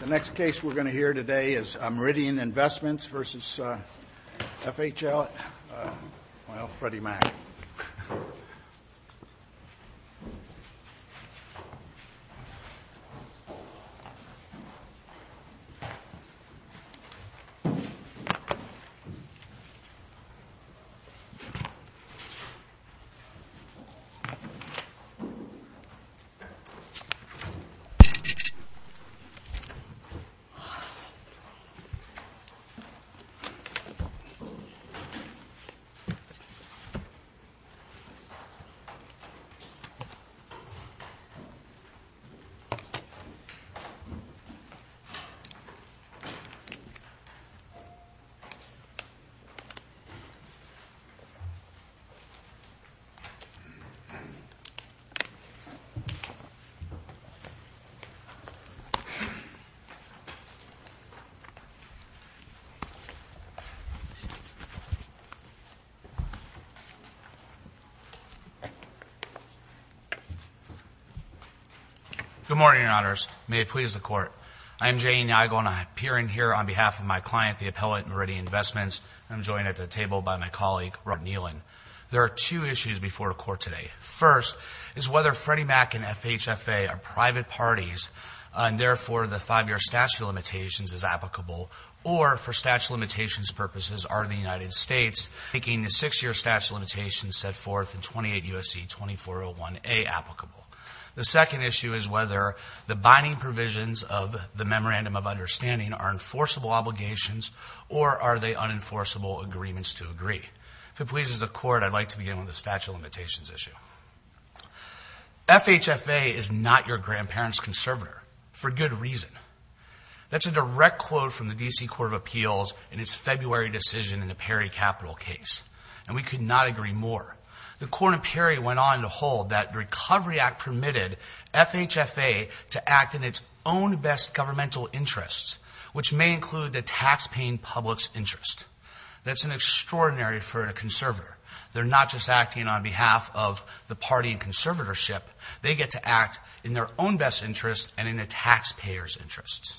The next case we're going to hear today is Meridian Investments v. FHL, well, Freddie Meridian Investments, Inc. v. Federal Home Loan Mortgage, v. FHL, v. FHL, v. FHL, v. v. Federal Home Loan Mortgage, v. FHL, v. FHL, v. FHL, v. FHL, v. FHL, v. FHL, v. Good morning, Your Honors. May it please the Court. I am J. E. Nygaard, and I appear in here on behalf of my client, the appellate Meridian Investments, and I'm joined at the table by my colleague Rod Nealon. There are two issues before the Court today. First is whether Freddie Mac and FHFA are private parties, and therefore the five-year statute of limitations is applicable, or for statute of limitations purposes, are the United States making the issue is whether the binding provisions of the Memorandum of Understanding are enforceable obligations or are they unenforceable agreements to agree. If it pleases the Court, I'd like to begin with the statute of limitations issue. FHFA is not your grandparent's conservator, for good reason. That's a direct quote from the D.C. Court of Appeals in its February decision in the Perry Capital case, and we could not agree more. The Court in Perry went on to hold that the Recovery Act permitted FHFA to act in its own best governmental interests, which may include the taxpaying public's interest. That's an extraordinary defer to conservator. They're not just acting on behalf of the party in conservatorship. They get to act in their own best interest and in the taxpayer's interest.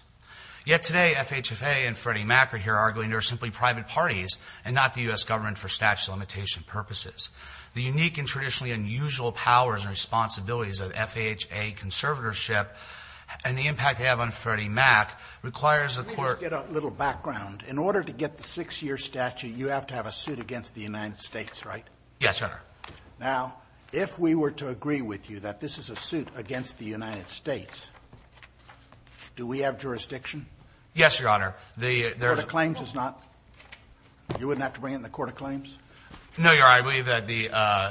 Yet today, FHFA and Freddie Mac are here arguing they're simply private parties and not the U.S. government for statute of limitation purposes. The unique and traditionally unusual powers and responsibilities of FHFA conservatorship and the impact they have on Freddie Mac requires the Court to be able to do that. Scalia. Let me just get a little background. In order to get the 6-year statute, you have to have a suit against the United States, right? McGill. Yes, Your Honor. Scalia. Now, if we were to agree with you that this is a suit against the United States, do we have jurisdiction? McGill. Yes, Your Honor. Scalia. The Court of Claims does not? You wouldn't have to bring it in the Court of Claims? McGill. No, Your Honor. I believe that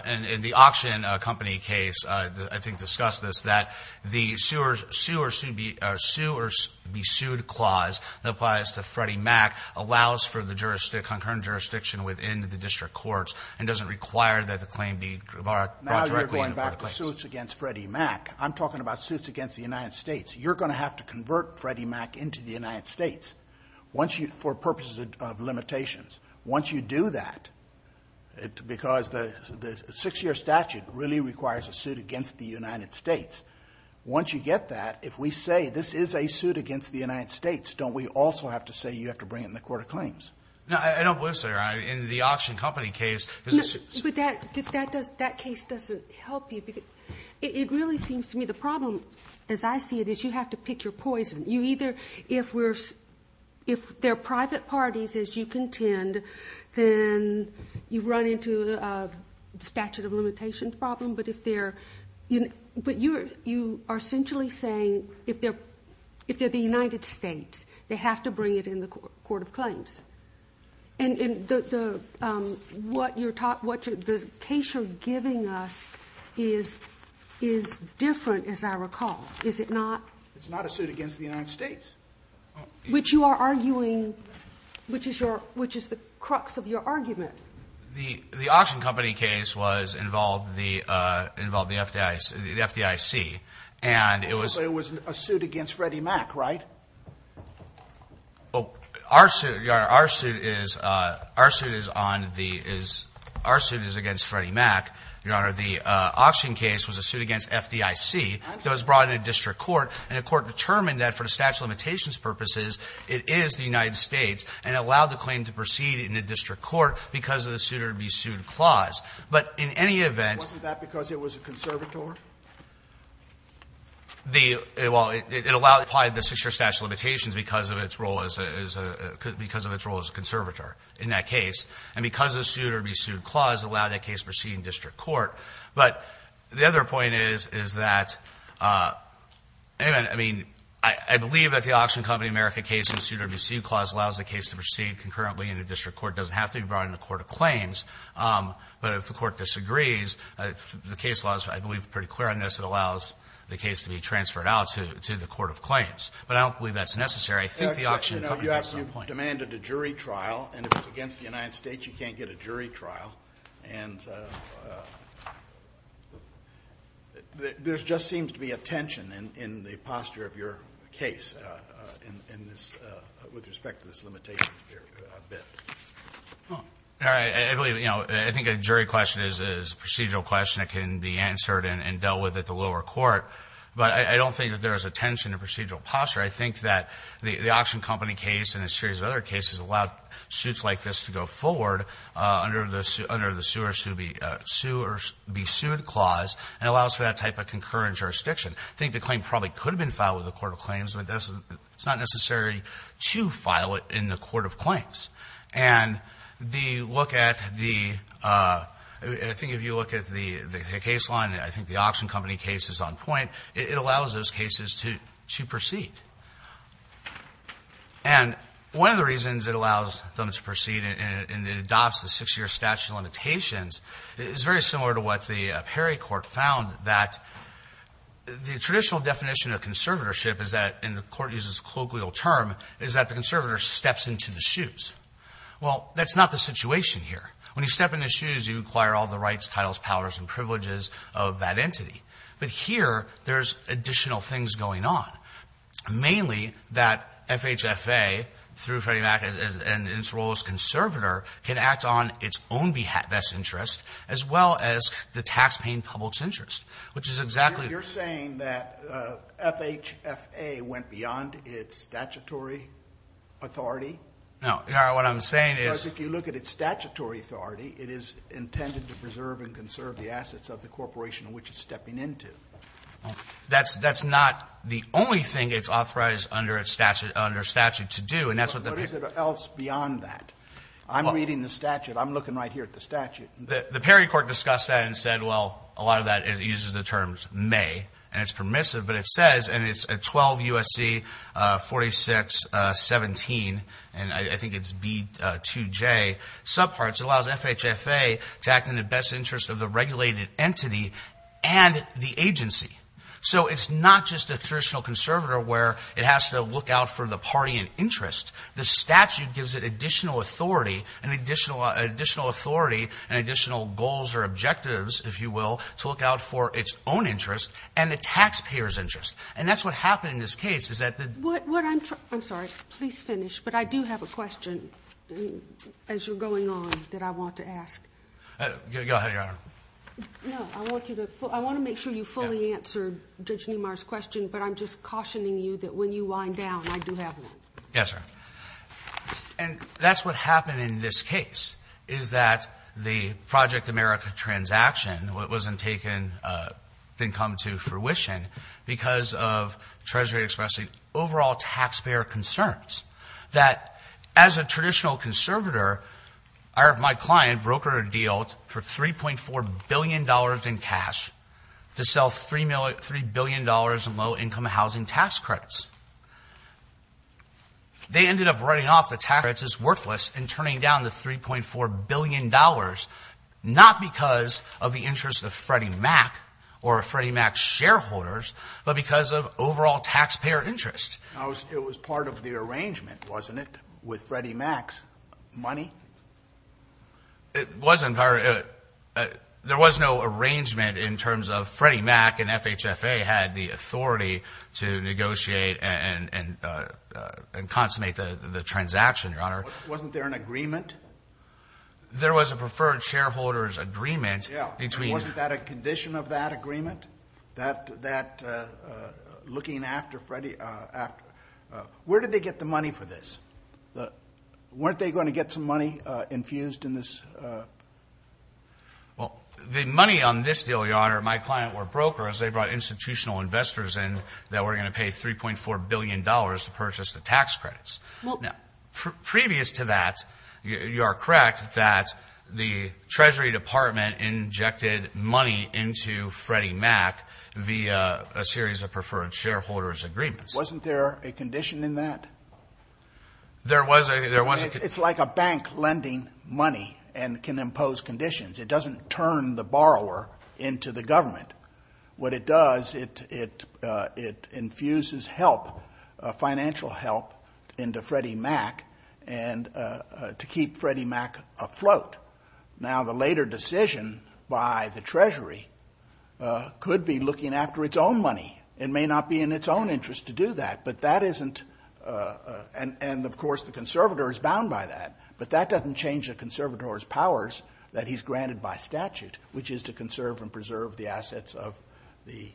in the auction company case, I think discussed this, that the sue or be sued clause that applies to Freddie Mac allows for the jurisdiction, concurrent jurisdiction within the district courts and doesn't require that the claim be brought directly in the Court of Claims. Scalia. Now you're going back to suits against Freddie Mac. I'm talking about suits against the United States. You're going to have to convert Freddie Mac into the United States for purposes of limitations. Once you do that, because the 6-year statute really requires a suit against the United States, once you get that, if we say this is a suit against the United States, don't we also have to say you have to bring it in the Court of Claims? McGill. No, I don't believe so, Your Honor. In the auction company case, there's a suit. Ginsburg. No, but that case doesn't help you. It really seems to me the problem, as I see it, is you have to pick your poison. If they're private parties, as you contend, then you run into a statute of limitation problem. But you are essentially saying if they're the United States, they have to bring it in the Court of Claims. And what the case you're giving us is different, as I recall. Is it not? It's not a suit against the United States. Which you are arguing, which is the crux of your argument. The auction company case involved the FDIC, and it was... It was a suit against Freddie Mac, right? Our suit, Your Honor, our suit is against Freddie Mac. Your Honor, the auction case was a suit against FDIC that was brought in a district court, and the court determined that for the statute of limitations purposes, it is the United States and allowed the claim to proceed in the district court because of the suit-or-be-sued clause. But in any event — Wasn't that because it was a conservator? Well, it allowed to apply the six-year statute of limitations because of its role as a conservator in that case. And because of the suit-or-be-sued clause, it allowed that case to proceed in district court. But the other point is, is that, in any event, I mean, I believe that the Auction Company America case in the suit-or-be-sued clause allows the case to proceed concurrently in the district court. It doesn't If the Court disagrees, the case law is, I believe, pretty clear on this. It allows the case to be transferred out to the court of claims. But I don't believe that's necessary. I think the Auction Company has some point. You know, you have to have demanded a jury trial. And if it's against the United States, you can't get a jury trial. And there just seems to be a tension in the posture of your case in this — with respect to this limitations bit. All right. I believe, you know, I think a jury question is a procedural question that can be answered and dealt with at the lower court. But I don't think that there is a tension in procedural posture. I think that the Auction Company case and a series of other cases allowed suits like this to go forward under the sue-or-be-sued clause and allows for that type of concurrent jurisdiction. I think the claim probably could have been filed with the court of claims. But it's not necessary to file it in the court of claims. And the look at the — I think if you look at the case law, and I think the Auction Company case is on point, it allows those cases to proceed. And one of the reasons it allows them to proceed and it adopts the six-year statute of limitations is very similar to what the Perry Court found, that the traditional definition of conservatorship is that, and the Court uses a colloquial term, is that the conservator steps into the shoes. Well, that's not the situation here. When you step in the shoes, you acquire all the rights, titles, powers, and privileges of that entity. But here, there's additional things going on, mainly that FHFA, through Freddie Mac and its role as conservator, can act on its own best interest, as well as the taxpaying public's interest, which is exactly the same. You're saying that FHFA went beyond its statutory authority? No. What I'm saying is — Because if you look at its statutory authority, it is intended to preserve and conserve the assets of the corporation in which it's stepping into. That's not the only thing it's authorized under statute to do, and that's what the — But is it else beyond that? I'm reading the statute. I'm looking right here at the statute. The Perry Court discussed that and said, well, a lot of that uses the terms may, and it's permissive, but it says, and it's 12 U.S.C. 4617, and I think it's B2J, subparts, it allows FHFA to act in the best interest of the regulated entity and the agency. So it's not just a traditional conservator where it has to look out for the party in interest. The statute gives it additional authority and additional goals or objectives, if you will, to look out for its own interest and the taxpayer's interest. And that's what happened in this case, is that the — What I'm — I'm sorry. Please finish. But I do have a question as you're going on that I want to ask. Go ahead, Your Honor. No. I want you to — I want to make sure you fully answered Judge Niemeyer's question, but I'm just cautioning you that when you wind down, I do have one. Yes, sir. And that's what happened in this case, is that the Project America transaction wasn't taken — didn't come to fruition because of Treasury expressing overall taxpayer concerns, that as a traditional conservator, my client brokered a deal for $3.4 billion in cash to sell $3 billion in low-income housing tax credits. They ended up writing off the tax credits as worthless and turning down the $3.4 billion, not because of the interest of Freddie Mac or Freddie Mac's shareholders, but because of overall taxpayer interest. It was part of the arrangement, wasn't it, with Freddie Mac's money? It wasn't part of it. There was no arrangement in terms of Freddie Mac and FHFA had the authority to negotiate and consummate the transaction, Your Honor. Wasn't there an agreement? There was a preferred shareholders agreement between — Yeah, and wasn't that a condition of that agreement, that looking after Freddie — where did they get the money for this? Weren't they going to get some money infused in this? Well, the money on this deal, Your Honor, my client were brokers. They brought institutional investors in that were going to pay $3.4 billion to purchase the tax credits. Now, previous to that, you are correct that the Treasury Department injected money into Freddie Mac via a series of preferred shareholders agreements. Wasn't there a condition in that? There was a — It's like a bank lending money and can impose conditions. It doesn't turn the borrower into the government. What it does, it infuses help, financial help, into Freddie Mac to keep Freddie Mac afloat. Now, the later decision by the Treasury could be looking after its own money. It may not be in its own interest to do that, but that isn't — and, of course, the conservator is bound by that. But that doesn't change a conservator's powers that he's granted by statute, which is to conserve and preserve the assets of the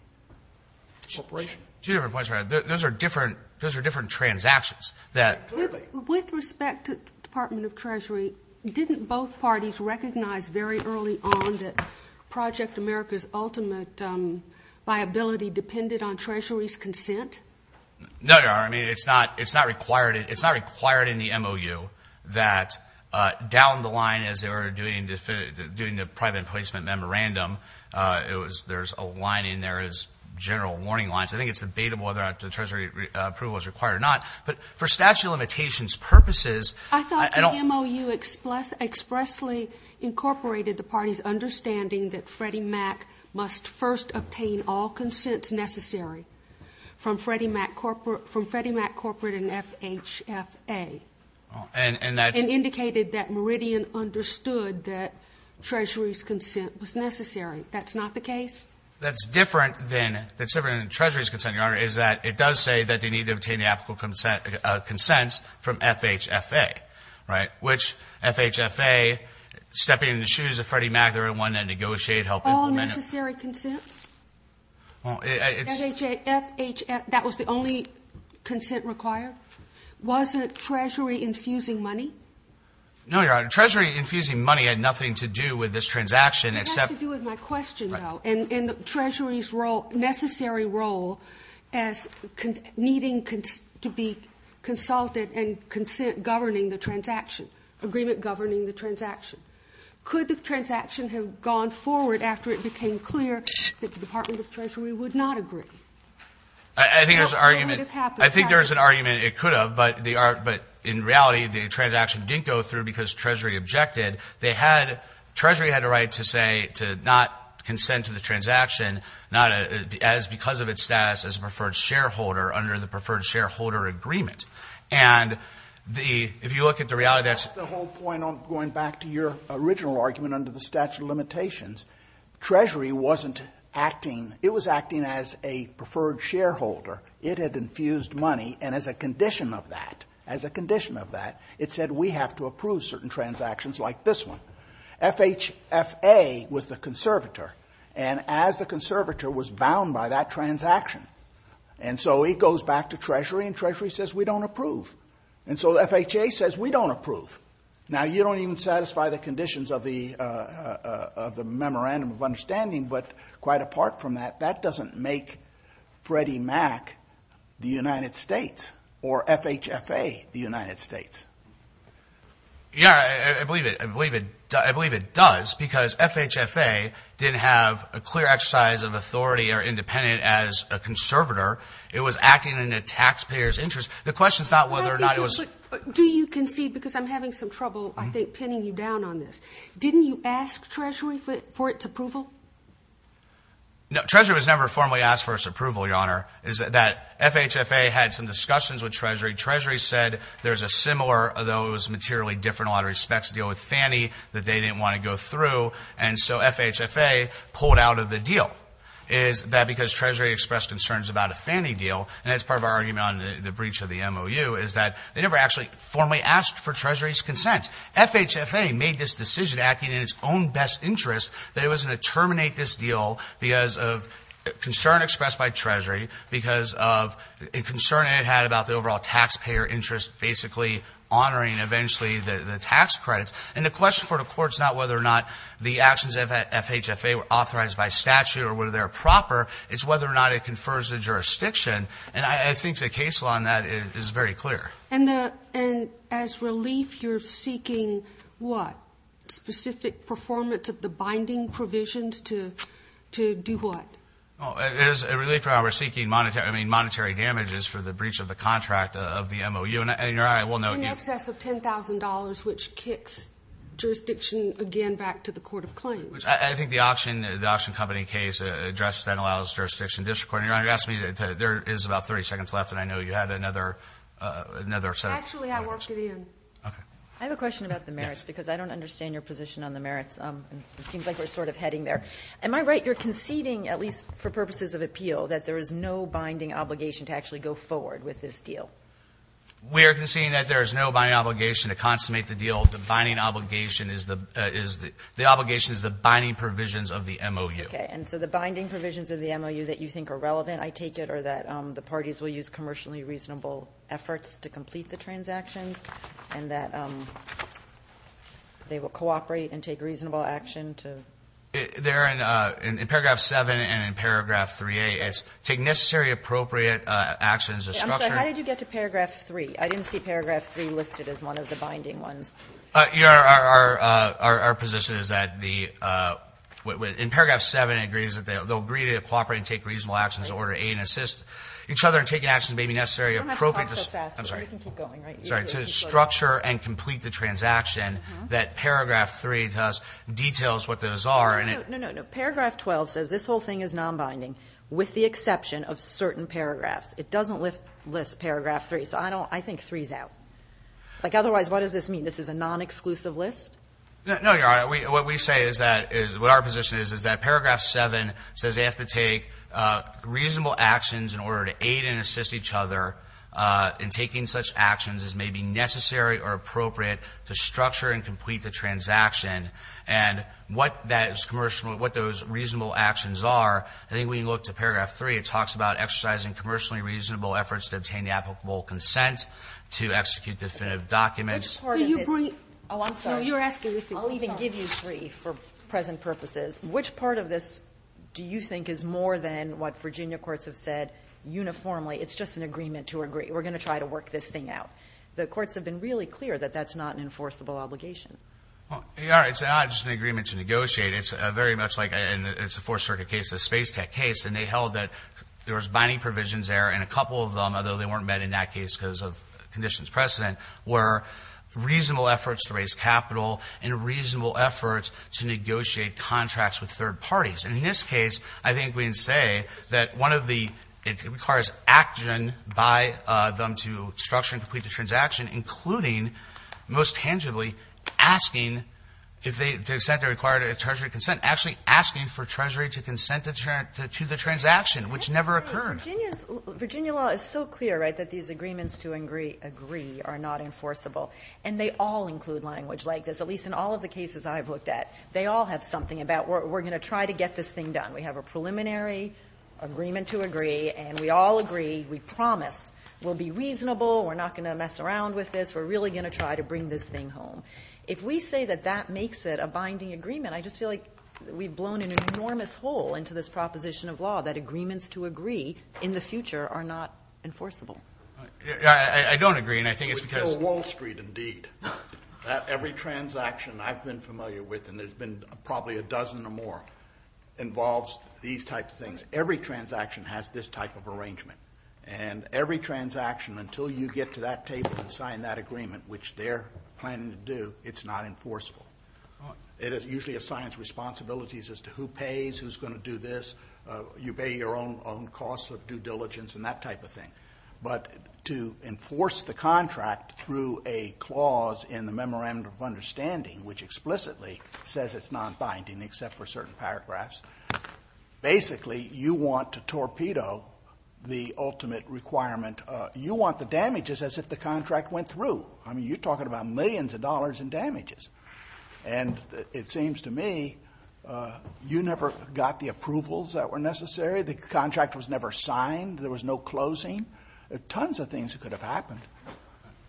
corporation. Two different points, Your Honor. Those are different transactions that — With respect to the Department of Treasury, didn't both parties recognize very early on that Project America's ultimate viability depended on Treasury's consent? No, Your Honor. I mean, it's not required in the MOU that down the line, as they were doing the private emplacement memorandum, there's a line in there as general warning lines. I think it's debatable whether the Treasury approval is required or not. But for statute of limitations purposes, I don't — It expressly incorporated the party's understanding that Freddie Mac must first obtain all consents necessary from Freddie Mac Corporate and FHFA. And that's — And indicated that Meridian understood that Treasury's consent was necessary. That's not the case? That's different than Treasury's consent, Your Honor, is that it does say that they need to obtain the applicable consents from FHFA, right, which FHFA, stepping in the shoes of Freddie Mac, they're the one that negotiated — All necessary consents? Well, it's — FHFA, that was the only consent required? Wasn't Treasury infusing money? No, Your Honor. Treasury infusing money had nothing to do with this transaction except — It has to do with my question, though. And Treasury's role, necessary role, as needing to be consulted and consent-governing the transaction, agreement-governing the transaction. Could the transaction have gone forward after it became clear that the Department of Treasury would not agree? I think there's an argument it could have, but in reality, the transaction didn't go through because Treasury objected. Treasury had a right to say to not consent to the transaction because of its status as a preferred shareholder under the preferred shareholder agreement. And if you look at the reality, that's — That's the whole point, going back to your original argument under the statute of limitations. Treasury wasn't acting — it was acting as a preferred shareholder. It had infused money, and as a condition of that, as a condition of that, it said, we have to approve certain transactions like this one. FHFA was the conservator, and as the conservator was bound by that transaction. And so it goes back to Treasury, and Treasury says, we don't approve. And so FHA says, we don't approve. Now, you don't even satisfy the conditions of the memorandum of understanding, but quite apart from that, that doesn't make Freddie Mac the United States, or FHFA the United States. Yeah, I believe it. I believe it does because FHFA didn't have a clear exercise of authority or independence as a conservator. It was acting in the taxpayer's interest. The question is not whether or not it was — Do you concede, because I'm having some trouble, I think, pinning you down on this. Didn't you ask Treasury for its approval? No, Treasury was never formally asked for its approval, Your Honor. FHFA had some discussions with Treasury. Treasury said there's a similar, although it was materially different in a lot of respects, deal with Fannie, that they didn't want to go through, and so FHFA pulled out of the deal. Is that because Treasury expressed concerns about a Fannie deal, and that's part of our argument on the breach of the MOU, is that they never actually formally asked for Treasury's consent. FHFA made this decision, acting in its own best interest, that it was going to terminate this deal because of concern expressed by Treasury, because of a concern it had about the overall taxpayer interest basically honoring, eventually, the tax credits. And the question for the Court is not whether or not the actions of FHFA were authorized by statute or whether they're proper. It's whether or not it confers the jurisdiction, and I think the case law on that is very clear. And as relief, you're seeking what? Specific performance of the binding provisions to do what? As a relief, Your Honor, we're seeking monetary damages for the breach of the contract of the MOU. In excess of $10,000, which kicks jurisdiction, again, back to the Court of Claims. I think the option company case address that allows jurisdiction. Your Honor, you're asking me to tell you there is about 30 seconds left, and I know you had another set of questions. Actually, I worked it in. Okay. I have a question about the merits, because I don't understand your position on the merits. It seems like we're sort of heading there. Am I right, you're conceding, at least for purposes of appeal, that there is no binding obligation to actually go forward with this deal? We are conceding that there is no binding obligation to consummate the deal. The binding obligation is the binding provisions of the MOU. Okay. And so the binding provisions of the MOU that you think are relevant, I take it, are that the parties will use commercially reasonable efforts to complete the transactions and that they will cooperate and take reasonable action to ---- There in paragraph 7 and in paragraph 3a, it's take necessary appropriate actions to structure ---- I'm sorry. How did you get to paragraph 3? I didn't see paragraph 3 listed as one of the binding ones. Our position is that the ---- in paragraph 7, it agrees that they'll agree to cooperate and take reasonable actions in order to aid and assist each other in taking actions that may be necessary, appropriate ---- You don't have to talk so fast. I'm sorry. You can keep going, right? Sorry. To structure and complete the transaction that paragraph 3 tells, details what those are. No, no, no. Paragraph 12 says this whole thing is nonbinding with the exception of certain paragraphs. It doesn't list paragraph 3. So I think 3 is out. Like, otherwise, what does this mean? This is a nonexclusive list? No, Your Honor. What we say is that ---- what our position is, is that paragraph 7 says they have to take reasonable actions in order to aid and assist each other in taking such actions as may be necessary or appropriate to structure and complete the transaction. And what that is commercial, what those reasonable actions are, I think when you look to paragraph 3, it talks about exercising commercially reasonable efforts to obtain the applicable consent to execute definitive documents. So you bring ---- Which part of this ---- Oh, I'm sorry. No, you were asking this. I'll even give you 3 for present purposes. Which part of this do you think is more than what Virginia courts have said uniformly? It's just an agreement to agree. We're going to try to work this thing out. The courts have been really clear that that's not an enforceable obligation. Well, Your Honor, it's not just an agreement to negotiate. It's very much like a ---- it's a Fourth Circuit case, a Space Tech case, and they weren't met in that case because of conditions precedent, where reasonable efforts to raise capital and reasonable efforts to negotiate contracts with third parties. And in this case, I think we can say that one of the ---- it requires action by them to structure and complete the transaction, including, most tangibly, asking if they ---- to the extent they require a treasury consent, actually asking for treasury to consent to the transaction, which never occurred. Well, Virginia's ---- Virginia law is so clear, right, that these agreements to agree are not enforceable, and they all include language like this, at least in all of the cases I've looked at. They all have something about we're going to try to get this thing done. We have a preliminary agreement to agree, and we all agree, we promise we'll be reasonable, we're not going to mess around with this, we're really going to try to bring this thing home. If we say that that makes it a binding agreement, I just feel like we've blown an enforceable. I don't agree, and I think it's because ---- We kill Wall Street, indeed. Every transaction I've been familiar with, and there's been probably a dozen or more, involves these types of things. Every transaction has this type of arrangement. And every transaction, until you get to that table and sign that agreement, which they're planning to do, it's not enforceable. It usually assigns responsibilities as to who pays, who's going to do this, you pay your own costs of due diligence and that type of thing. But to enforce the contract through a clause in the Memorandum of Understanding, which explicitly says it's non-binding except for certain paragraphs, basically you want to torpedo the ultimate requirement. You want the damages as if the contract went through. I mean, you're talking about millions of dollars in damages. And it seems to me you never got the approvals that were necessary. The contract was never signed. There was no closing. There are tons of things that could have happened.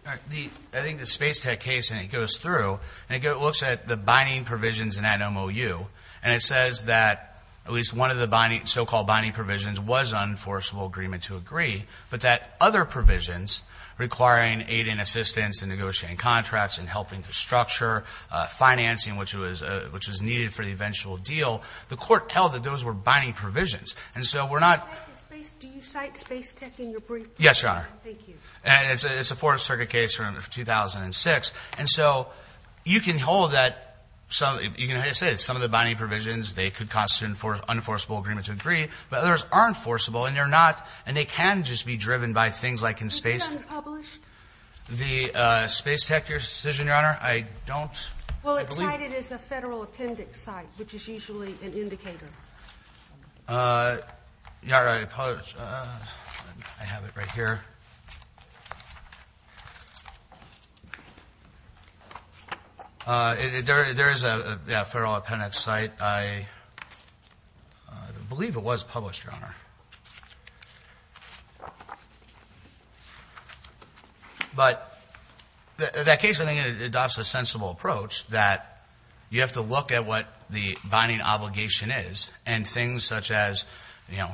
All right. I think the Space Tech case, and it goes through, and it looks at the binding provisions in that MOU, and it says that at least one of the so-called binding provisions was an enforceable agreement to agree, but that other provisions, requiring aid and assistance in negotiating contracts and helping to structure financing, which was needed for the eventual deal, the court held that those were binding provisions. And so we're not – Do you cite Space Tech in your brief? Yes, Your Honor. Thank you. It's a Fourth Circuit case from 2006. And so you can hold that some – you can say some of the binding provisions, they could constitute an enforceable agreement to agree, but others aren't Is it unpublished? The Space Tech decision, Your Honor? I don't – Well, it's cited as a federal appendix site, which is usually an indicator. All right. I have it right here. There is a federal appendix site. I believe it was published, Your Honor. But that case, I think, adopts a sensible approach that you have to look at what the binding obligation is and things such as, you know,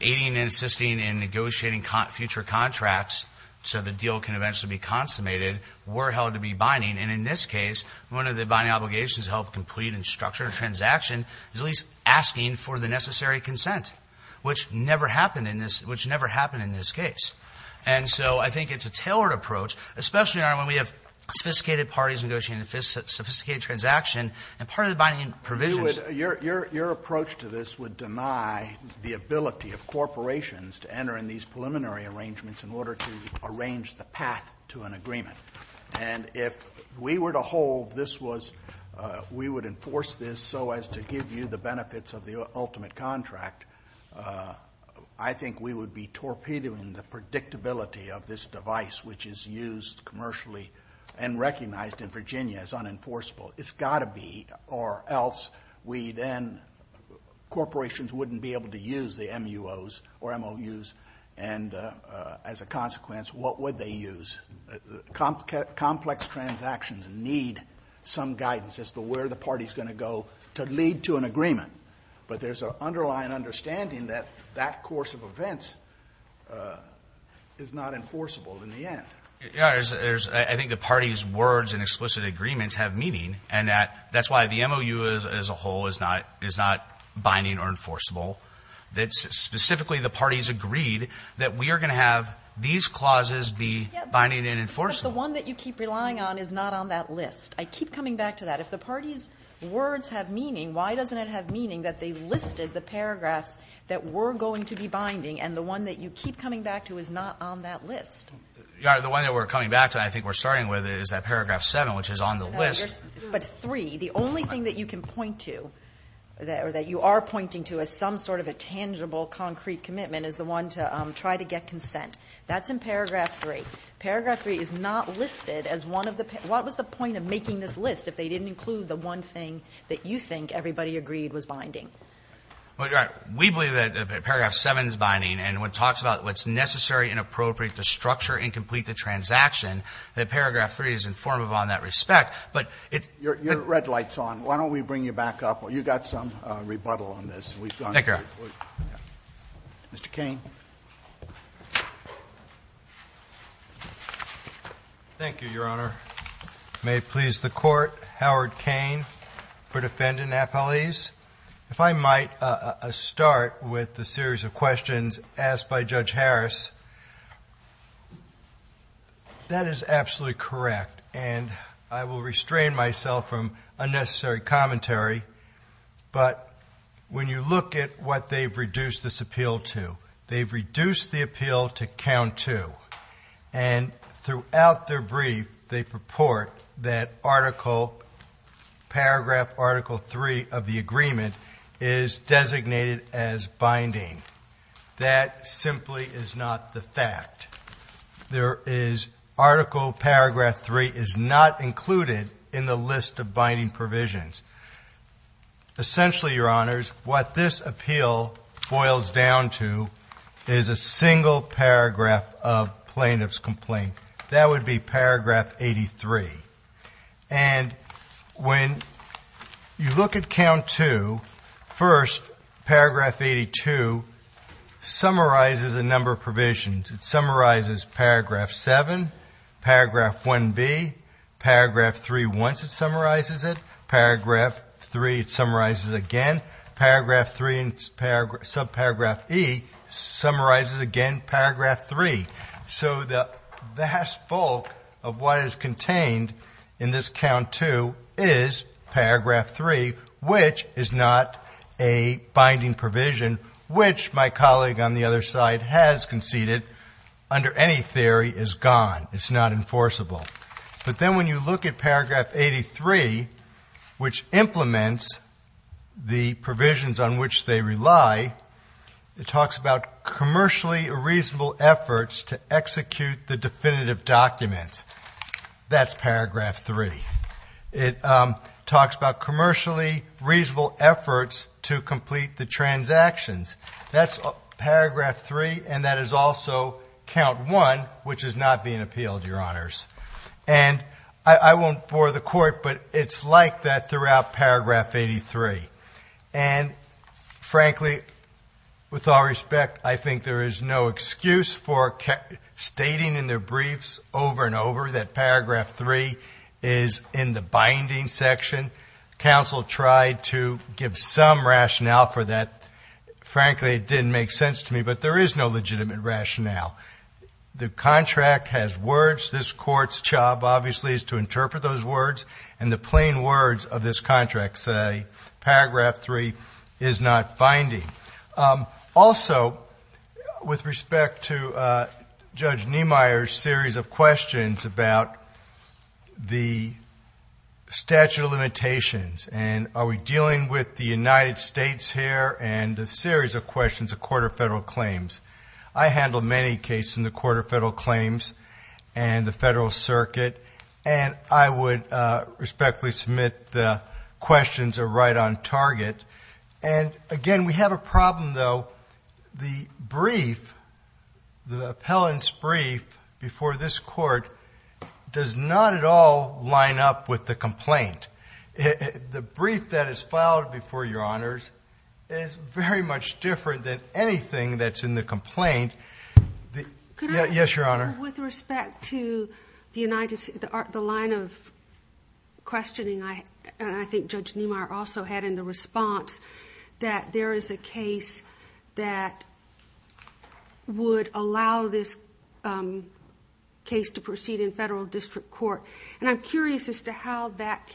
aiding and assisting in negotiating future contracts so the deal can eventually be consummated were held to be binding. And in this case, one of the binding obligations to help complete and structure a transaction is at least asking for the necessary consent, which never happened in this case. And so I think it's a tailored approach, especially, Your Honor, when we have sophisticated parties negotiating a sophisticated transaction, and part of the binding provisions – But you would – your approach to this would deny the ability of corporations to enter in these preliminary arrangements in order to arrange the path to an agreement. And if we were to hold this was – we would enforce this so as to give you the predictability of this device, which is used commercially and recognized in Virginia as unenforceable. It's got to be, or else we then – corporations wouldn't be able to use the MUOs or MOUs. And as a consequence, what would they use? Complex transactions need some guidance as to where the party's going to go to lead to an agreement. But there's an underlying understanding that that course of events is not enforceable in the end. Your Honor, there's – I think the party's words and explicit agreements have meaning, and that's why the MOU as a whole is not binding or enforceable. Specifically, the parties agreed that we are going to have these clauses be binding and enforceable. But the one that you keep relying on is not on that list. I keep coming back to that. If the party's words have meaning, why doesn't it have meaning that they listed the paragraphs that were going to be binding and the one that you keep coming back to is not on that list? Your Honor, the one that we're coming back to, and I think we're starting with, is that paragraph 7, which is on the list. But 3, the only thing that you can point to or that you are pointing to as some sort of a tangible, concrete commitment is the one to try to get consent. That's in paragraph 3. Paragraph 3 is not listed as one of the – what was the point of making this list if they didn't include the one thing that you think everybody agreed was binding? Well, Your Honor, we believe that paragraph 7 is binding. And when it talks about what's necessary and appropriate to structure and complete the transaction, that paragraph 3 is informative on that respect. But it's – Your red light's on. Why don't we bring you back up? You've got some rebuttal on this. Thank you, Your Honor. Mr. Cain. Thank you, Your Honor. May it please the Court, Howard Cain for defendant appellees. If I might start with the series of questions asked by Judge Harris, that is absolutely correct, and I will restrain myself from unnecessary commentary. But when you look at what they've reduced this appeal to, they've reduced the appeal to count 2. And throughout their brief, they purport that article – paragraph article 3 of the agreement is designated as binding. That simply is not the fact. There is – article paragraph 3 is not included in the list of binding provisions. Essentially, Your Honors, what this appeal boils down to is a single paragraph of plaintiff's complaint. That would be paragraph 83. And when you look at count 2, first, paragraph 82 summarizes a number of provisions. It summarizes paragraph 7, paragraph 1B, paragraph 3 once it summarizes it, paragraph 3 it summarizes again, paragraph 3 and subparagraph E summarizes again paragraph 3. So the vast bulk of what is contained in this count 2 is paragraph 3, which is not a binding provision, which my colleague on the other side has conceded under any theory is gone. It's not enforceable. But then when you look at paragraph 83, which implements the provisions on which they rely, it talks about commercially reasonable efforts to execute the definitive documents. That's paragraph 3. It talks about commercially reasonable efforts to complete the transactions. That's paragraph 3, and that is also count 1, which is not being appealed, Your Honors. And I won't bore the court, but it's like that throughout paragraph 83. And frankly, with all respect, I think there is no excuse for stating in their briefs over and over that paragraph 3 is in the binding section. Counsel tried to give some rationale for that. Frankly, it didn't make sense to me, but there is no legitimate rationale. The contract has words. This Court's job, obviously, is to interpret those words, and the plain words of this contract say paragraph 3 is not binding. Also, with respect to Judge Niemeyer's series of questions about the statute of limitations and are we dealing with the United States here and a series of questions of Court of Federal Claims. I handle many cases in the Court of Federal Claims and the Federal Circuit, and I would respectfully submit the questions are right on target. And again, we have a problem, though. The brief, the appellant's brief before this Court does not at all line up with the complaint. The brief that is filed before Your Honors is very much different than anything that's in the complaint. Yes, Your Honor. With respect to the line of questioning, I think Judge Niemeyer also had in the response that there is a case that would allow this case to proceed in federal district court, and I'm curious as to how that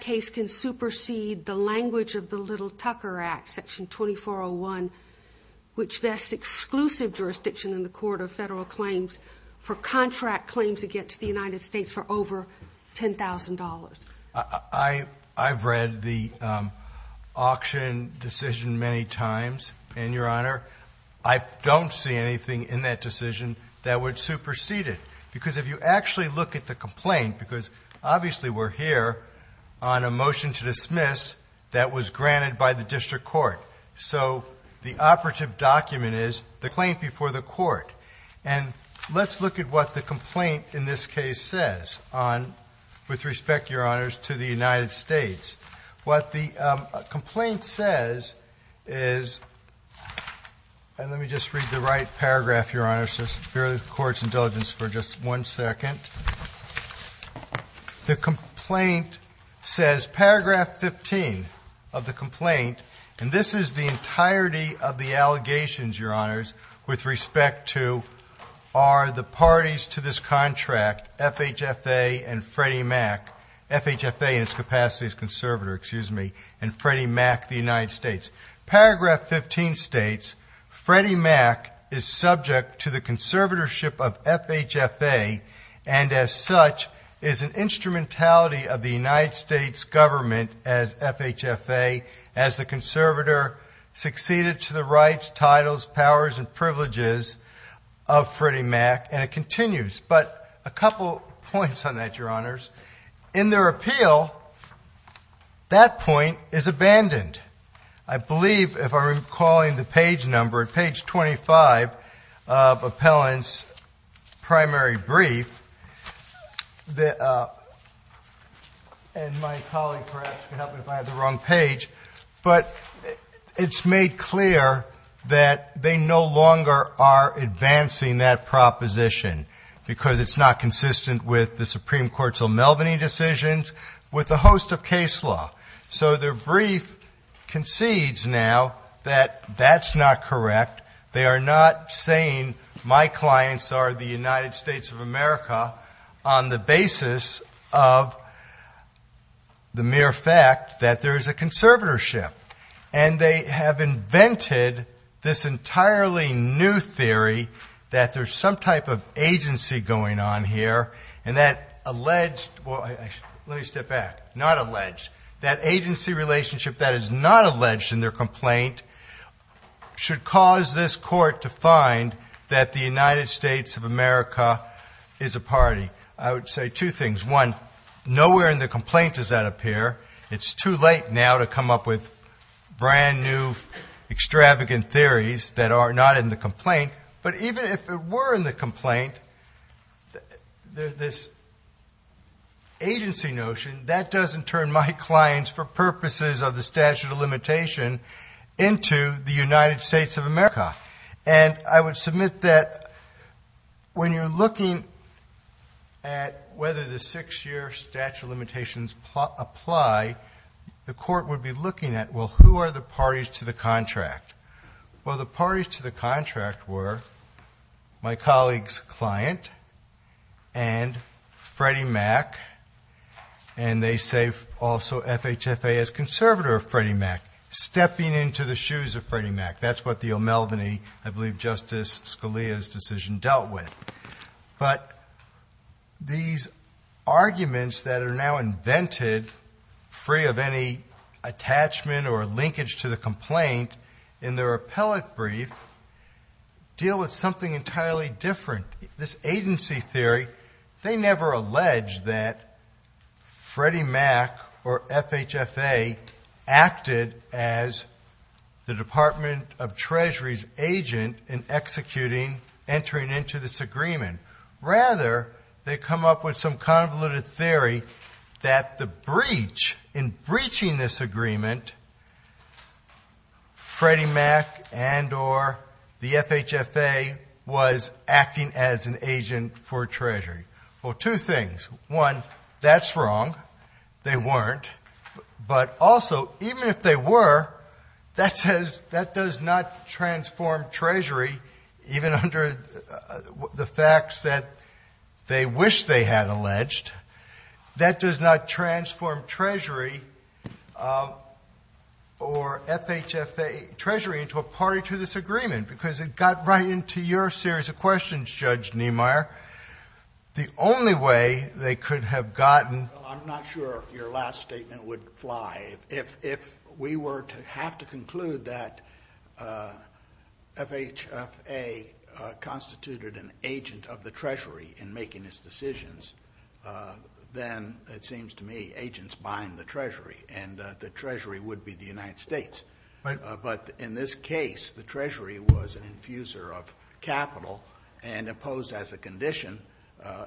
case can supersede the language of the Little Tucker Act, Section 2401, which vests exclusive jurisdiction in the Court of Federal Claims for contract claims against the United States for over $10,000. I've read the auction decision many times, and Your Honor, I don't see anything in that decision that would supersede it. Because if you actually look at the complaint, because obviously we're here on a motion to dismiss that was granted by the district court. So the operative document is the claim before the court. And let's look at what the complaint in this case says with respect, Your Honors, to the United States. What the complaint says is, and let me just read the right paragraph, Your Honors, just for the Court's indulgence for just one second. The complaint says, paragraph 15 of the complaint, and this is the entirety of the allegations, Your Honors, with respect to are the parties to this contract, FHFA and Freddie Mac, FHFA in its capacity as conservator, excuse me, and Freddie Mac, the United States. Paragraph 15 states, Freddie Mac is subject to the conservatorship of FHFA, and as such is an instrumentality of the United States government as FHFA, as the conservator succeeded to the rights, titles, powers, and privileges of Freddie Mac, and it continues. But a couple points on that, Your Honors. In their appeal, that point is abandoned. I believe, if I'm recalling the page number, at page 25 of appellant's primary brief, and my colleague perhaps can help me if I have the wrong page, but it's made clear that they no longer are advancing that proposition because it's not consistent with the Supreme Court's O'Melveny decisions, with the host of case law. So their brief concedes now that that's not correct. They are not saying my clients are the United States of America on the basis of the mere fact that there is a conservatorship. And they have invented this entirely new theory that there's some type of agency going on here, and that alleged, well, let me step back, not alleged, that agency relationship that is not alleged in their complaint should cause this court to find that the United States of America is a party. I would say two things. One, nowhere in the complaint does that appear. It's too late now to come up with brand new extravagant theories that are not in the complaint. But even if it were in the complaint, this agency notion, that doesn't turn my clients for purposes of the statute of limitation into the United States of America. And I would submit that when you're looking at whether the six-year statute of limitations apply, the court would be looking at, well, who are the parties to the contract? Well, the parties to the contract were my colleague's client and Freddie Mac, and they say also FHFA is conservative of Freddie Mac, stepping into the shoes of Freddie Mac. That's what the O'Melveny, I believe Justice Scalia's decision dealt with. But these arguments that are now invented, free of any attachment or linkage to the complaint, in their appellate brief deal with something entirely different. This agency theory, they never allege that Freddie Mac or FHFA acted as the Department of Treasury's agent in executing, entering into this agreement. Rather, they come up with some convoluted theory that the breach, in breaching this agreement, Freddie Mac and or the FHFA was acting as an agent for Treasury. Well, two things. One, that's wrong. They weren't. But also, even if they were, that does not transform Treasury, even under the facts that they wish they had alleged. That does not transform Treasury or FHFA, Treasury, into a party to this agreement, because it got right into your series of questions, Judge Niemeyer. The only way they could have gotten. Well, I'm not sure if your last statement would fly. If we were to have to conclude that FHFA constituted an agent of the Treasury in making its decisions, then it seems to me agents bind the Treasury, and the Treasury would be the United States. But in this case, the Treasury was an infuser of capital and opposed, as a condition,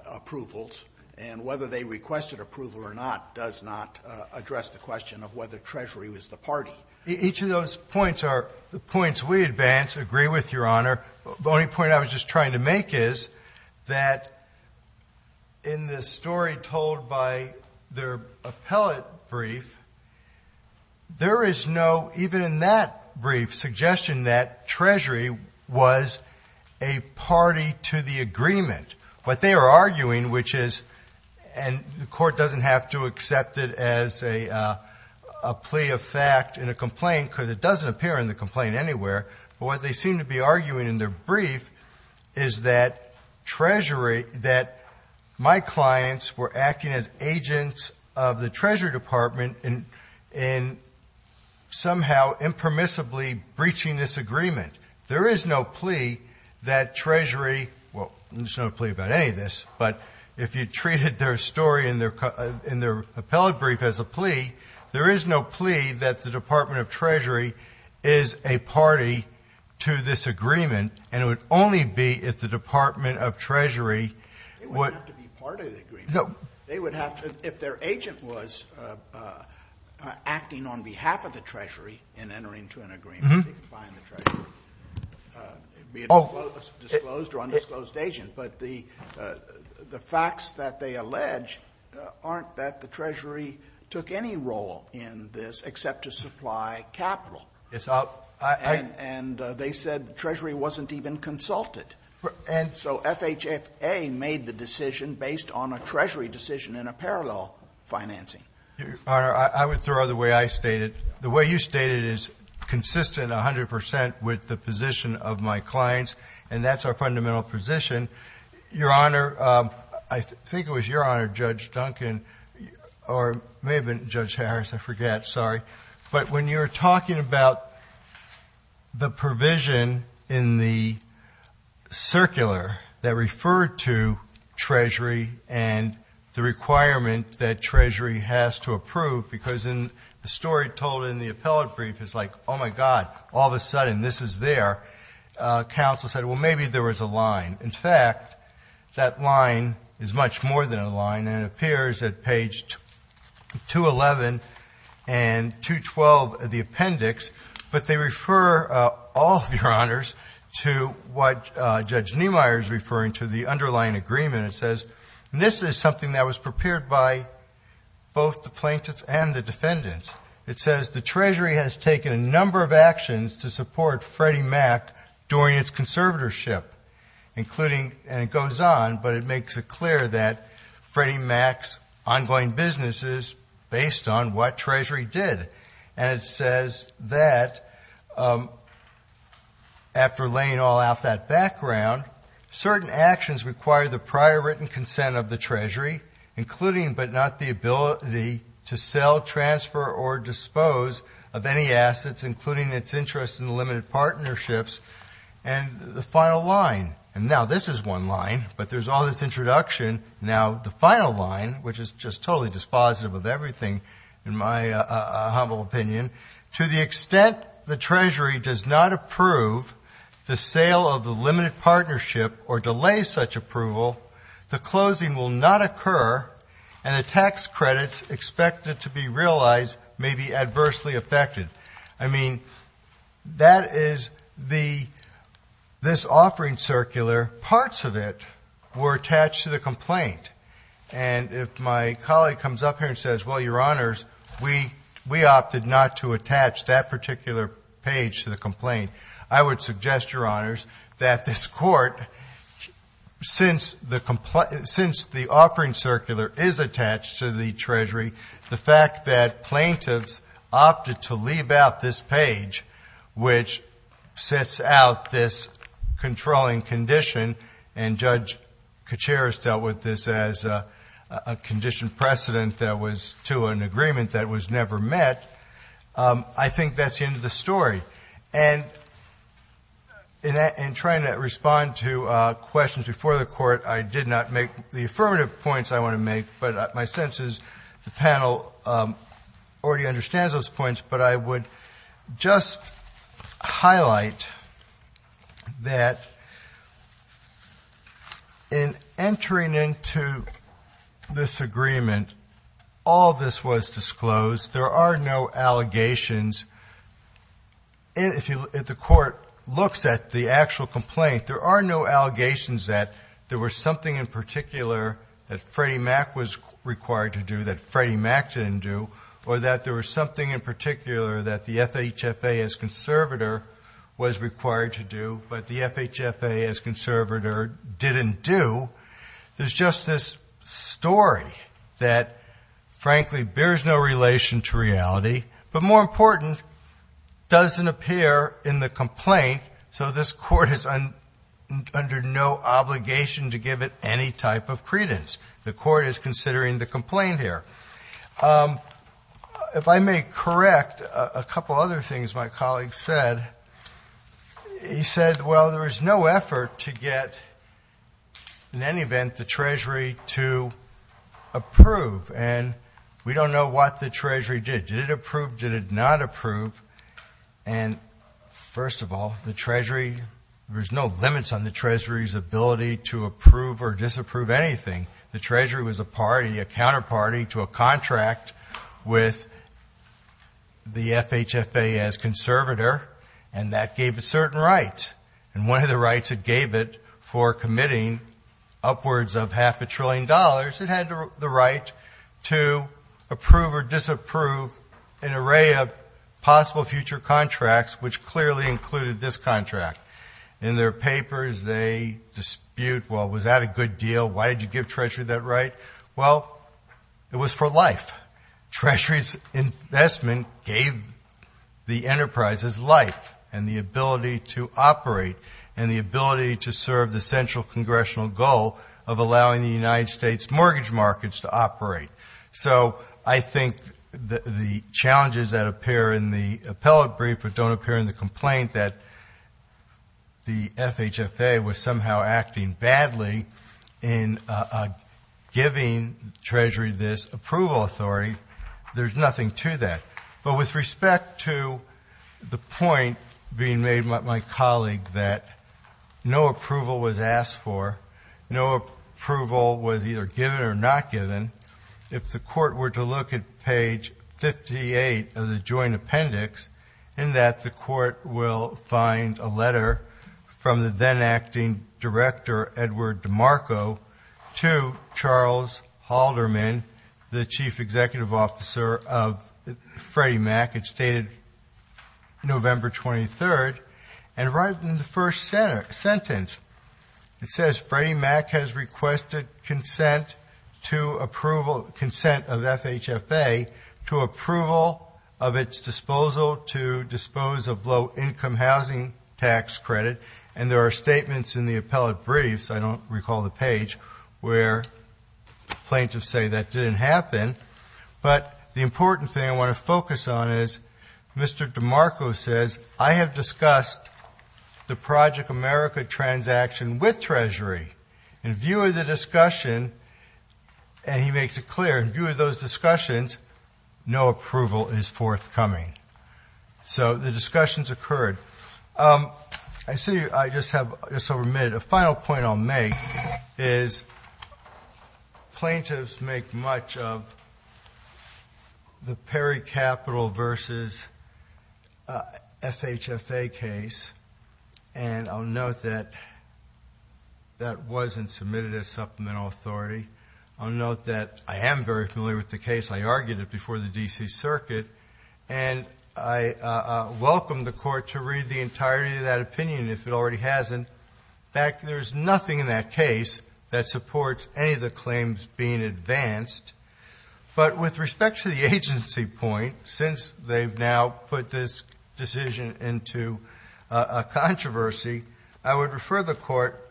approvals. And whether they requested approval or not does not address the question of whether Treasury was the party. Each of those points are points we advance, agree with, Your Honor. The only point I was just trying to make is that in the story told by their appellate brief, there is no, even in that brief, suggestion that Treasury was a party to the agreement. What they are arguing, which is, and the Court doesn't have to accept it as a plea of fact in a complaint, because it doesn't appear in the complaint anywhere, but what they seem to be arguing in their brief is that Treasury, that my clients were acting as agents of the Treasury Department in somehow impermissibly breaching this agreement. There is no plea that Treasury, well, there's no plea about any of this, but if you treated their story in their appellate brief as a plea, there is no plea that the Department of Treasury is a party to this agreement, and it would only be if the Department of Treasury would. They wouldn't have to be part of the agreement. No. They would have to, if their agent was acting on behalf of the Treasury and entering into an agreement, they could find the Treasury, be it a disclosed or undisclosed agent. But the facts that they allege aren't that the Treasury took any role in this except to supply capital. And they said the Treasury wasn't even consulted. And so FHFA made the decision based on a Treasury decision in a parallel financing. Your Honor, I would throw out the way I state it. The way you state it is consistent 100 percent with the position of my clients, and that's our fundamental position. Your Honor, I think it was your honor, Judge Duncan, or it may have been Judge Harris, I forget, sorry. But when you're talking about the provision in the circular that referred to Treasury and the requirement that Treasury has to approve, because the story told in the appellate brief is like, oh, my God, all of a sudden this is there. Counsel said, well, maybe there was a line. In fact, that line is much more than a line, and it appears at page 211 and 212 of the appendix. But they refer, all of your honors, to what Judge Niemeyer is referring to, the underlying agreement. It says this is something that was prepared by both the plaintiffs and the defendants. It says the Treasury has taken a number of actions to support Freddie Mac during its conservatorship, including, and it goes on, but it makes it clear that Freddie Mac's ongoing business is based on what Treasury did. And it says that, after laying all out that background, certain actions require the prior written consent of the Treasury, including but not the ability to sell, transfer, or dispose of any assets, including its interest in limited partnerships. And the final line, and now this is one line, but there's all this introduction. Now, the final line, which is just totally dispositive of everything, in my humble opinion, to the extent the Treasury does not approve the sale of the limited partnership or delay such approval, the closing will not occur and the tax credits expected to be realized may be adversely affected. I mean, that is the, this offering circular, parts of it were attached to the complaint. And if my colleague comes up here and says, well, Your Honors, we opted not to attach that particular page to the complaint, I would suggest, Your Honors, that this Court, since the offering circular is attached to the Treasury, the fact that plaintiffs opted to leave out this page, which sets out this controlling condition, and Judge Kuceris dealt with this as a condition precedent that was to an agreement that was never met, I think that's the end of the story. And in trying to respond to questions before the Court, I did not make the affirmative points I want to make, but my sense is the panel already understands those points. But I would just highlight that in entering into this agreement, all this was disclosed. There are no allegations. If the Court looks at the actual complaint, there are no allegations that there was something in particular that Freddie Mac was required to do that Freddie Mac didn't do, or that there was something in particular that the FHFA as conservator was required to do, but the FHFA as conservator didn't do. There's just this story that, frankly, bears no relation to reality, but more important, doesn't appear in the complaint, so this Court is under no obligation to give it any type of credence. The Court is considering the complaint here. If I may correct a couple other things my colleague said, he said, well, there was no effort to get, in any event, the Treasury to approve, and we don't know what the Treasury did. Did it approve? Did it not approve? And, first of all, the Treasury, there's no limits on the Treasury's ability to approve or disapprove anything. The Treasury was a party, a counterparty to a contract with the FHFA as conservator, and that gave it certain rights, and one of the rights it gave it for committing upwards of half a trillion dollars, perhaps it had the right to approve or disapprove an array of possible future contracts, which clearly included this contract. In their papers, they dispute, well, was that a good deal? Why did you give Treasury that right? Well, it was for life. Treasury's investment gave the enterprises life and the ability to operate and the ability to serve the central congressional goal of allowing the United States mortgage markets to operate. So I think the challenges that appear in the appellate brief but don't appear in the complaint that the FHFA was somehow acting badly in giving Treasury this approval authority, there's nothing to that. But with respect to the point being made by my colleague that no approval was asked for, no approval was either given or not given, if the Court were to look at page 58 of the Joint Appendix, in that the Court will find a letter from the then-Acting Director, Edward DeMarco, to Charles Halderman, the Chief Executive Officer of Freddie Mac. It's dated November 23rd. And right in the first sentence, it says, Freddie Mac has requested consent of FHFA to approval of its disposal to dispose of low-income housing tax credit. And there are statements in the appellate briefs, I don't recall the page, where plaintiffs say that didn't happen. But the important thing I want to focus on is Mr. DeMarco says, I have discussed the Project America transaction with Treasury. In view of the discussion, and he makes it clear, in view of those discussions, no approval is forthcoming. So the discussions occurred. I see I just have just over a minute. A final point I'll make is plaintiffs make much of the Perry Capital versus FHFA case. And I'll note that that wasn't submitted as supplemental authority. I'll note that I am very familiar with the case. I argued it before the D.C. Circuit. And I welcome the Court to read the entirety of that opinion, if it already hasn't. In fact, there's nothing in that case that supports any of the claims being advanced. But with respect to the agency point, since they've now put this decision into a controversy, I would refer the Court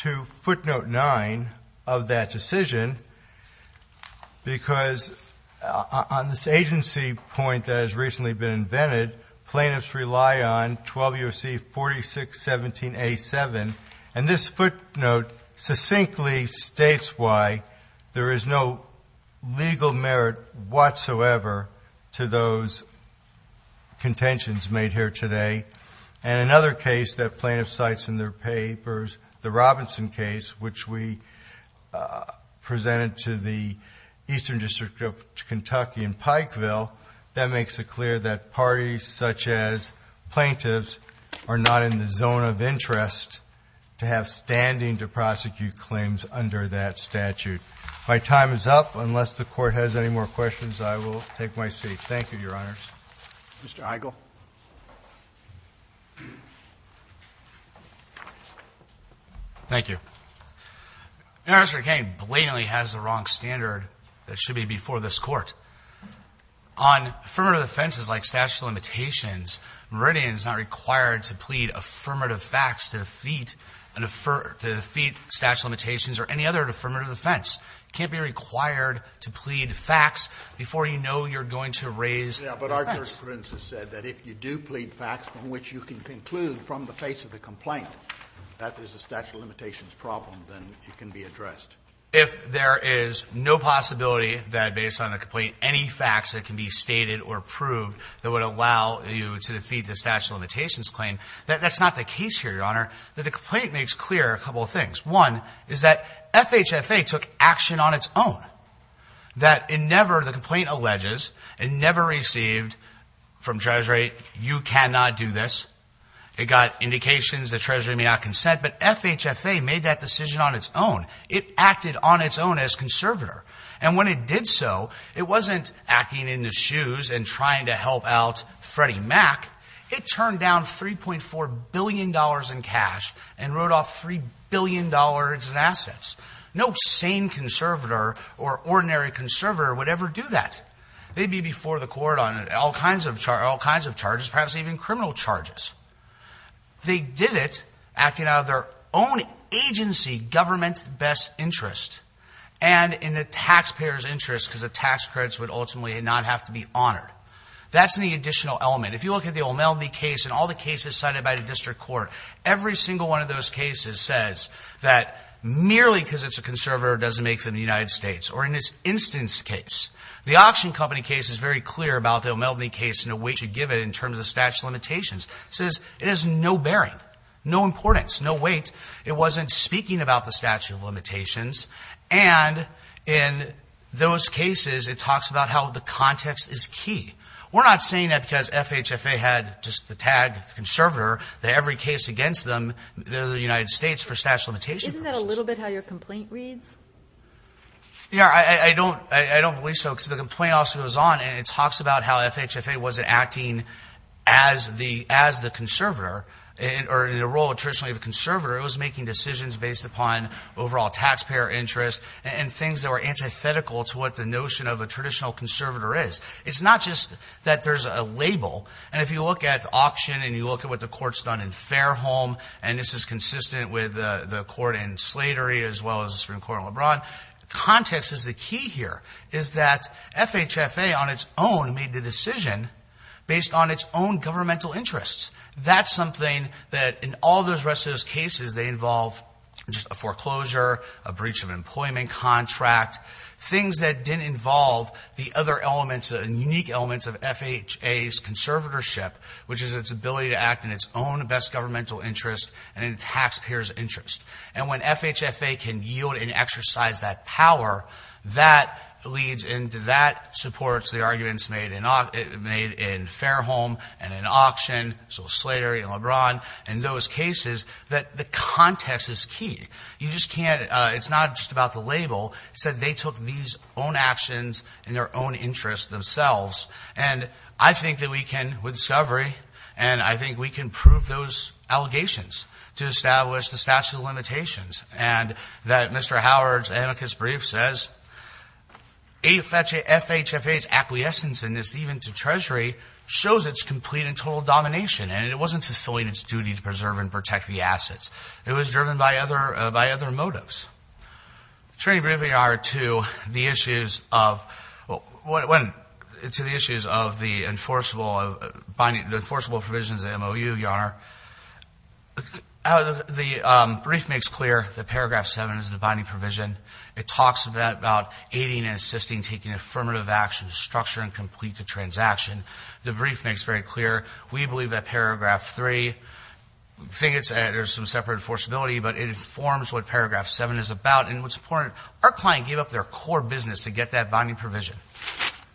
to footnote 9 of that decision, because on this agency point that has recently been invented, plaintiffs rely on 12 U.S.C. 4617A.7. And this footnote succinctly states why there is no legal merit whatsoever to those contentions made here today. And another case that plaintiff cites in their papers, the Robinson case, which we presented to the Eastern District of Kentucky in Pikeville, that makes it clear that parties such as plaintiffs are not in the zone of interest to have standing to prosecute claims under that statute. My time is up. Unless the Court has any more questions, I will take my seat. Thank you, Your Honors. Roberts. Mr. Eichel. Eichel. Thank you. Mr. McCain blatantly has the wrong standard that should be before this Court. On affirmative defenses like statute of limitations, Meridian is not required to plead affirmative facts to defeat an affir to defeat statute of limitations or any other affirmative defense. It can't be required to plead facts before you know you're going to raise facts. Yeah, but our jurisprudence has said that if you do plead facts from which you can conclude from the face of the complaint that there's a statute of limitations problem, then it can be addressed. If there is no possibility that, based on the complaint, any facts that can be stated or proved that would allow you to defeat the statute of limitations claim, that's not the case here, Your Honor. The complaint makes clear a couple of things. One is that FHFA took action on its own. That it never, the complaint alleges, it never received from Treasury, you cannot do this. It got indications that Treasury may not consent, but FHFA made that decision on its own. It acted on its own as conservator. And when it did so, it wasn't acting in the shoes and trying to help out Freddie Mac. It turned down $3.4 billion in cash and wrote off $3 billion in assets. No sane conservator or ordinary conservator would ever do that. They'd be before the court on all kinds of charges, perhaps even criminal charges. They did it acting out of their own agency government best interest and in the taxpayer's interest because the tax credits would ultimately not have to be honored. That's an additional element. If you look at the O'Melveny case and all the cases cited by the district court, every single one of those cases says that merely because it's a conservator doesn't make them the United States. Or in this instance case, the auction company case is very clear about the O'Melveny case and the weight it should give it in terms of statute of limitations. It says it has no bearing, no importance, no weight. It wasn't speaking about the statute of limitations. And in those cases, it talks about how the context is key. We're not saying that because FHFA had just the tag, the conservator, that every case against them, they're the United States for statute of limitations purposes. Isn't that a little bit how your complaint reads? Yeah, I don't believe so because the complaint also goes on and it talks about how FHFA wasn't acting as the conservator or in the role of traditionally the conservator. It was making decisions based upon overall taxpayer interest and things that were antithetical to what the notion of a traditional conservator is. It's not just that there's a label. And if you look at the auction and you look at what the court's done in Fairholme, and this is consistent with the court in Slatery as well as the Supreme Court in LeBron, context is the key here, is that FHFA on its own made the decision based on its own governmental interests. That's something that in all the rest of those cases, they involve just a foreclosure, a breach of employment contract, things that didn't involve the other elements, unique elements of FHA's conservatorship, which is its ability to act in its own best governmental interest and in the taxpayer's interest. And when FHFA can yield and exercise that power, that leads into that supports the arguments made in Fairholme and in auction, so Slatery and LeBron and those cases, that the context is key. You just can't, it's not just about the label. It's that they took these own actions in their own interest themselves. And I think that we can, with discovery, and I think we can prove those allegations to establish the statute of limitations and that Mr. Howard's amicus brief says FHFA's acquiescence in this, even to Treasury, shows its complete and total domination. And it wasn't fulfilling its duty to preserve and protect the assets. It was driven by other motives. The training briefing, Your Honor, to the issues of the enforceable provisions at MOU, Your Honor, the brief makes clear that Paragraph 7 is the binding provision. It talks about aiding and assisting, taking affirmative action, structure and complete the transaction. The brief makes very clear, we believe that Paragraph 3, there's some separate enforceability, but it informs what Paragraph 7 is about. And what's important, our client gave up their core business to get that binding provision.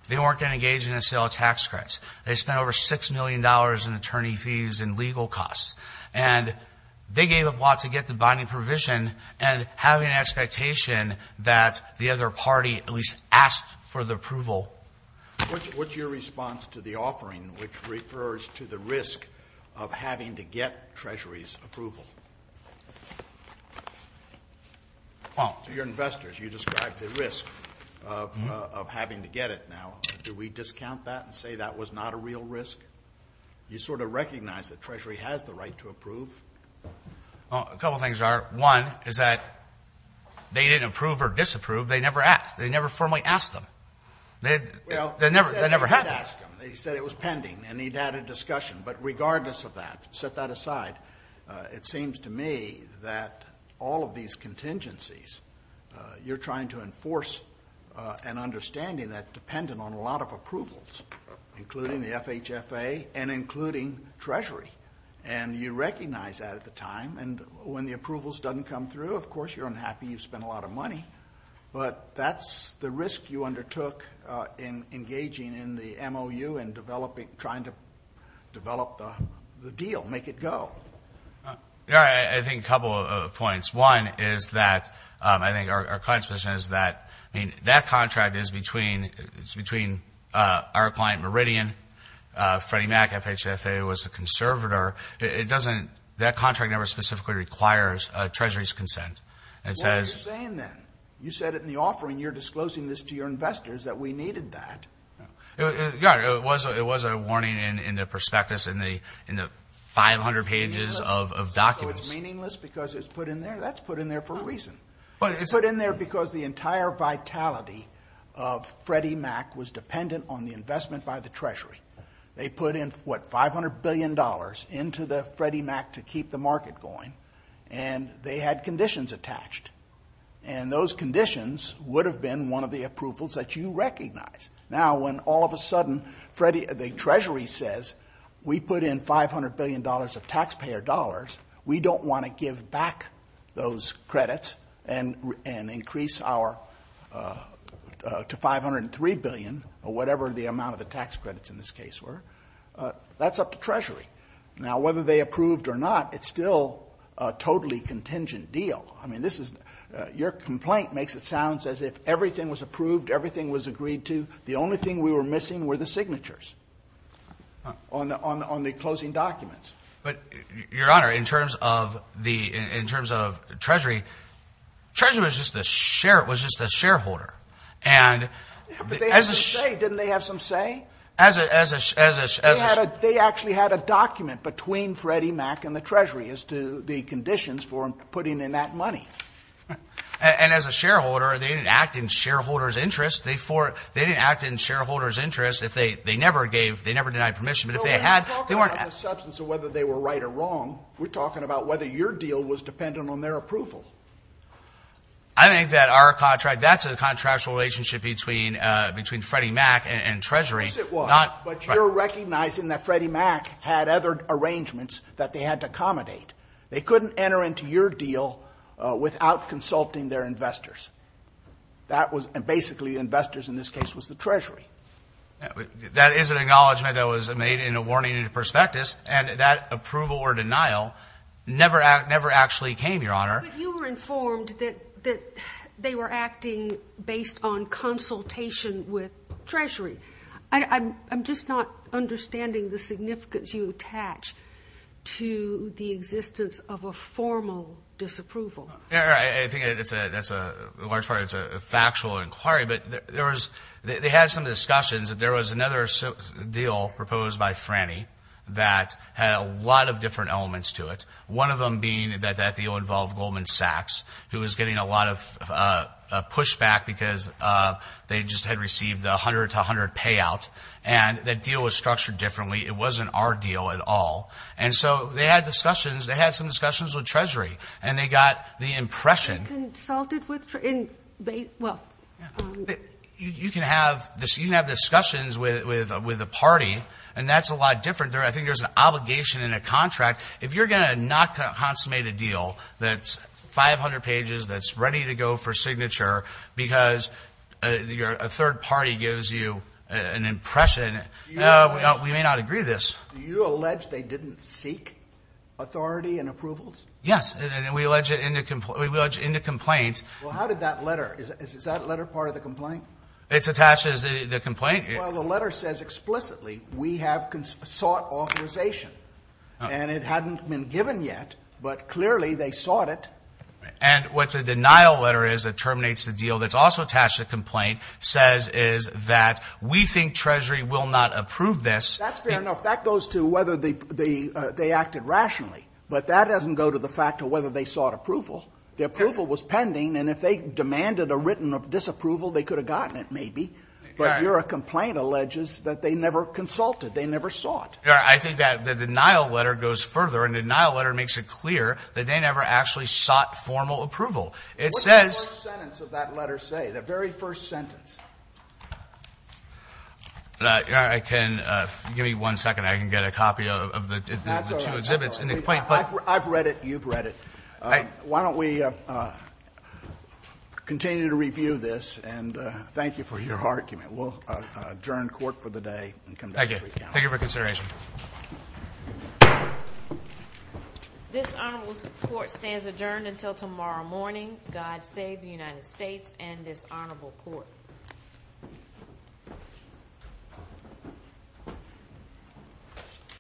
They weren't going to engage in the sale of tax credits. They spent over $6 million in attorney fees and legal costs. And they gave up lots to get the binding provision and having an expectation that the other party at least asked for the approval. Scalia. What's your response to the offering which refers to the risk of having to get Treasury's approval? To your investors, you described the risk of having to get it. Now, do we discount that and say that was not a real risk? You sort of recognize that Treasury has the right to approve. A couple of things, Your Honor. One is that they didn't approve or disapprove. They never asked. They never formally asked them. They never had to ask them. They said it was pending and they'd had a discussion. But regardless of that, set that aside. It seems to me that all of these contingencies, you're trying to enforce an understanding that's dependent on a lot of approvals, including the FHFA and including Treasury. And you recognize that at the time. And when the approvals doesn't come through, of course, you're unhappy. You've spent a lot of money. But that's the risk you undertook in engaging in the MOU and trying to make it a deal, make it go. Your Honor, I think a couple of points. One is that I think our client's position is that, I mean, that contract is between our client Meridian, Freddie Mac, FHFA, was a conservator. That contract never specifically requires Treasury's consent. What are you saying then? You said it in the offering. You're disclosing this to your investors that we needed that. Your Honor, it was a warning in the prospectus in the 500 pages of documents. So it's meaningless because it's put in there? That's put in there for a reason. It's put in there because the entire vitality of Freddie Mac was dependent on the investment by the Treasury. They put in, what, $500 billion into the Freddie Mac to keep the market going. And they had conditions attached. And those conditions would have been one of the approvals that you recognize. Now, when all of a sudden the Treasury says, we put in $500 billion of taxpayer dollars, we don't want to give back those credits and increase to $503 billion, or whatever the amount of the tax credits in this case were. That's up to Treasury. Now, whether they approved or not, it's still a totally contingent deal. I mean, your complaint makes it sound as if everything was approved, everything was agreed to. The only thing we were missing were the signatures on the closing documents. But, Your Honor, in terms of Treasury, Treasury was just a shareholder. But they had some say. Didn't they have some say? They actually had a document between Freddie Mac and the Treasury as to the conditions for putting in that money. And as a shareholder, they didn't act in shareholders' interest. They didn't act in shareholders' interest if they never gave, they never denied permission. But if they had, they weren't. We're not talking about the substance of whether they were right or wrong. We're talking about whether your deal was dependent on their approval. I think that our contract, that's a contractual relationship between Freddie Mac and Treasury. Yes, it was. But you're recognizing that Freddie Mac had other arrangements that they had to accommodate. They couldn't enter into your deal without consulting their investors. And basically, the investors in this case was the Treasury. That is an acknowledgment that was made in a warning prospectus, and that approval or denial never actually came, Your Honor. But you were informed that they were acting based on consultation with Treasury. I'm just not understanding the significance you attach to the existence of a formal disapproval. I think that's a large part. It's a factual inquiry. But they had some discussions that there was another deal proposed by Frannie that had a lot of different elements to it, one of them being that that deal involved Goldman Sachs, who was getting a lot of pushback because they just had received the 100-to-100 payout, and that deal was structured differently. It wasn't our deal at all. And so they had discussions. They had some discussions with Treasury, and they got the impression that you can have discussions with a party, and that's a lot different. I think there's an obligation in a contract. If you're going to not consummate a deal that's 500 pages, that's ready to go for signature because a third party gives you an impression, we may not agree to this. Do you allege they didn't seek authority and approvals? Yes. And we allege it in the complaint. Well, how did that letter? Is that letter part of the complaint? It's attached as the complaint. Well, the letter says explicitly we have sought authorization, and it hadn't been given yet, but clearly they sought it. And what the denial letter is that terminates the deal that's also attached to the complaint says is that we think Treasury will not approve this. That's fair enough. That goes to whether they acted rationally, but that doesn't go to the fact of whether they sought approval. The approval was pending, and if they demanded a written disapproval, they could have gotten it maybe, but your complaint alleges that they never consulted. They never sought. I think that the denial letter goes further. And the denial letter makes it clear that they never actually sought formal approval. It says the very first sentence. I can give you one second. I can get a copy of the two exhibits. I've read it. You've read it. Why don't we continue to review this? And thank you for your argument. We'll adjourn court for the day. Thank you. Thank you for consideration. This honorable court stands adjourned until tomorrow morning. God save the United States and this honorable court.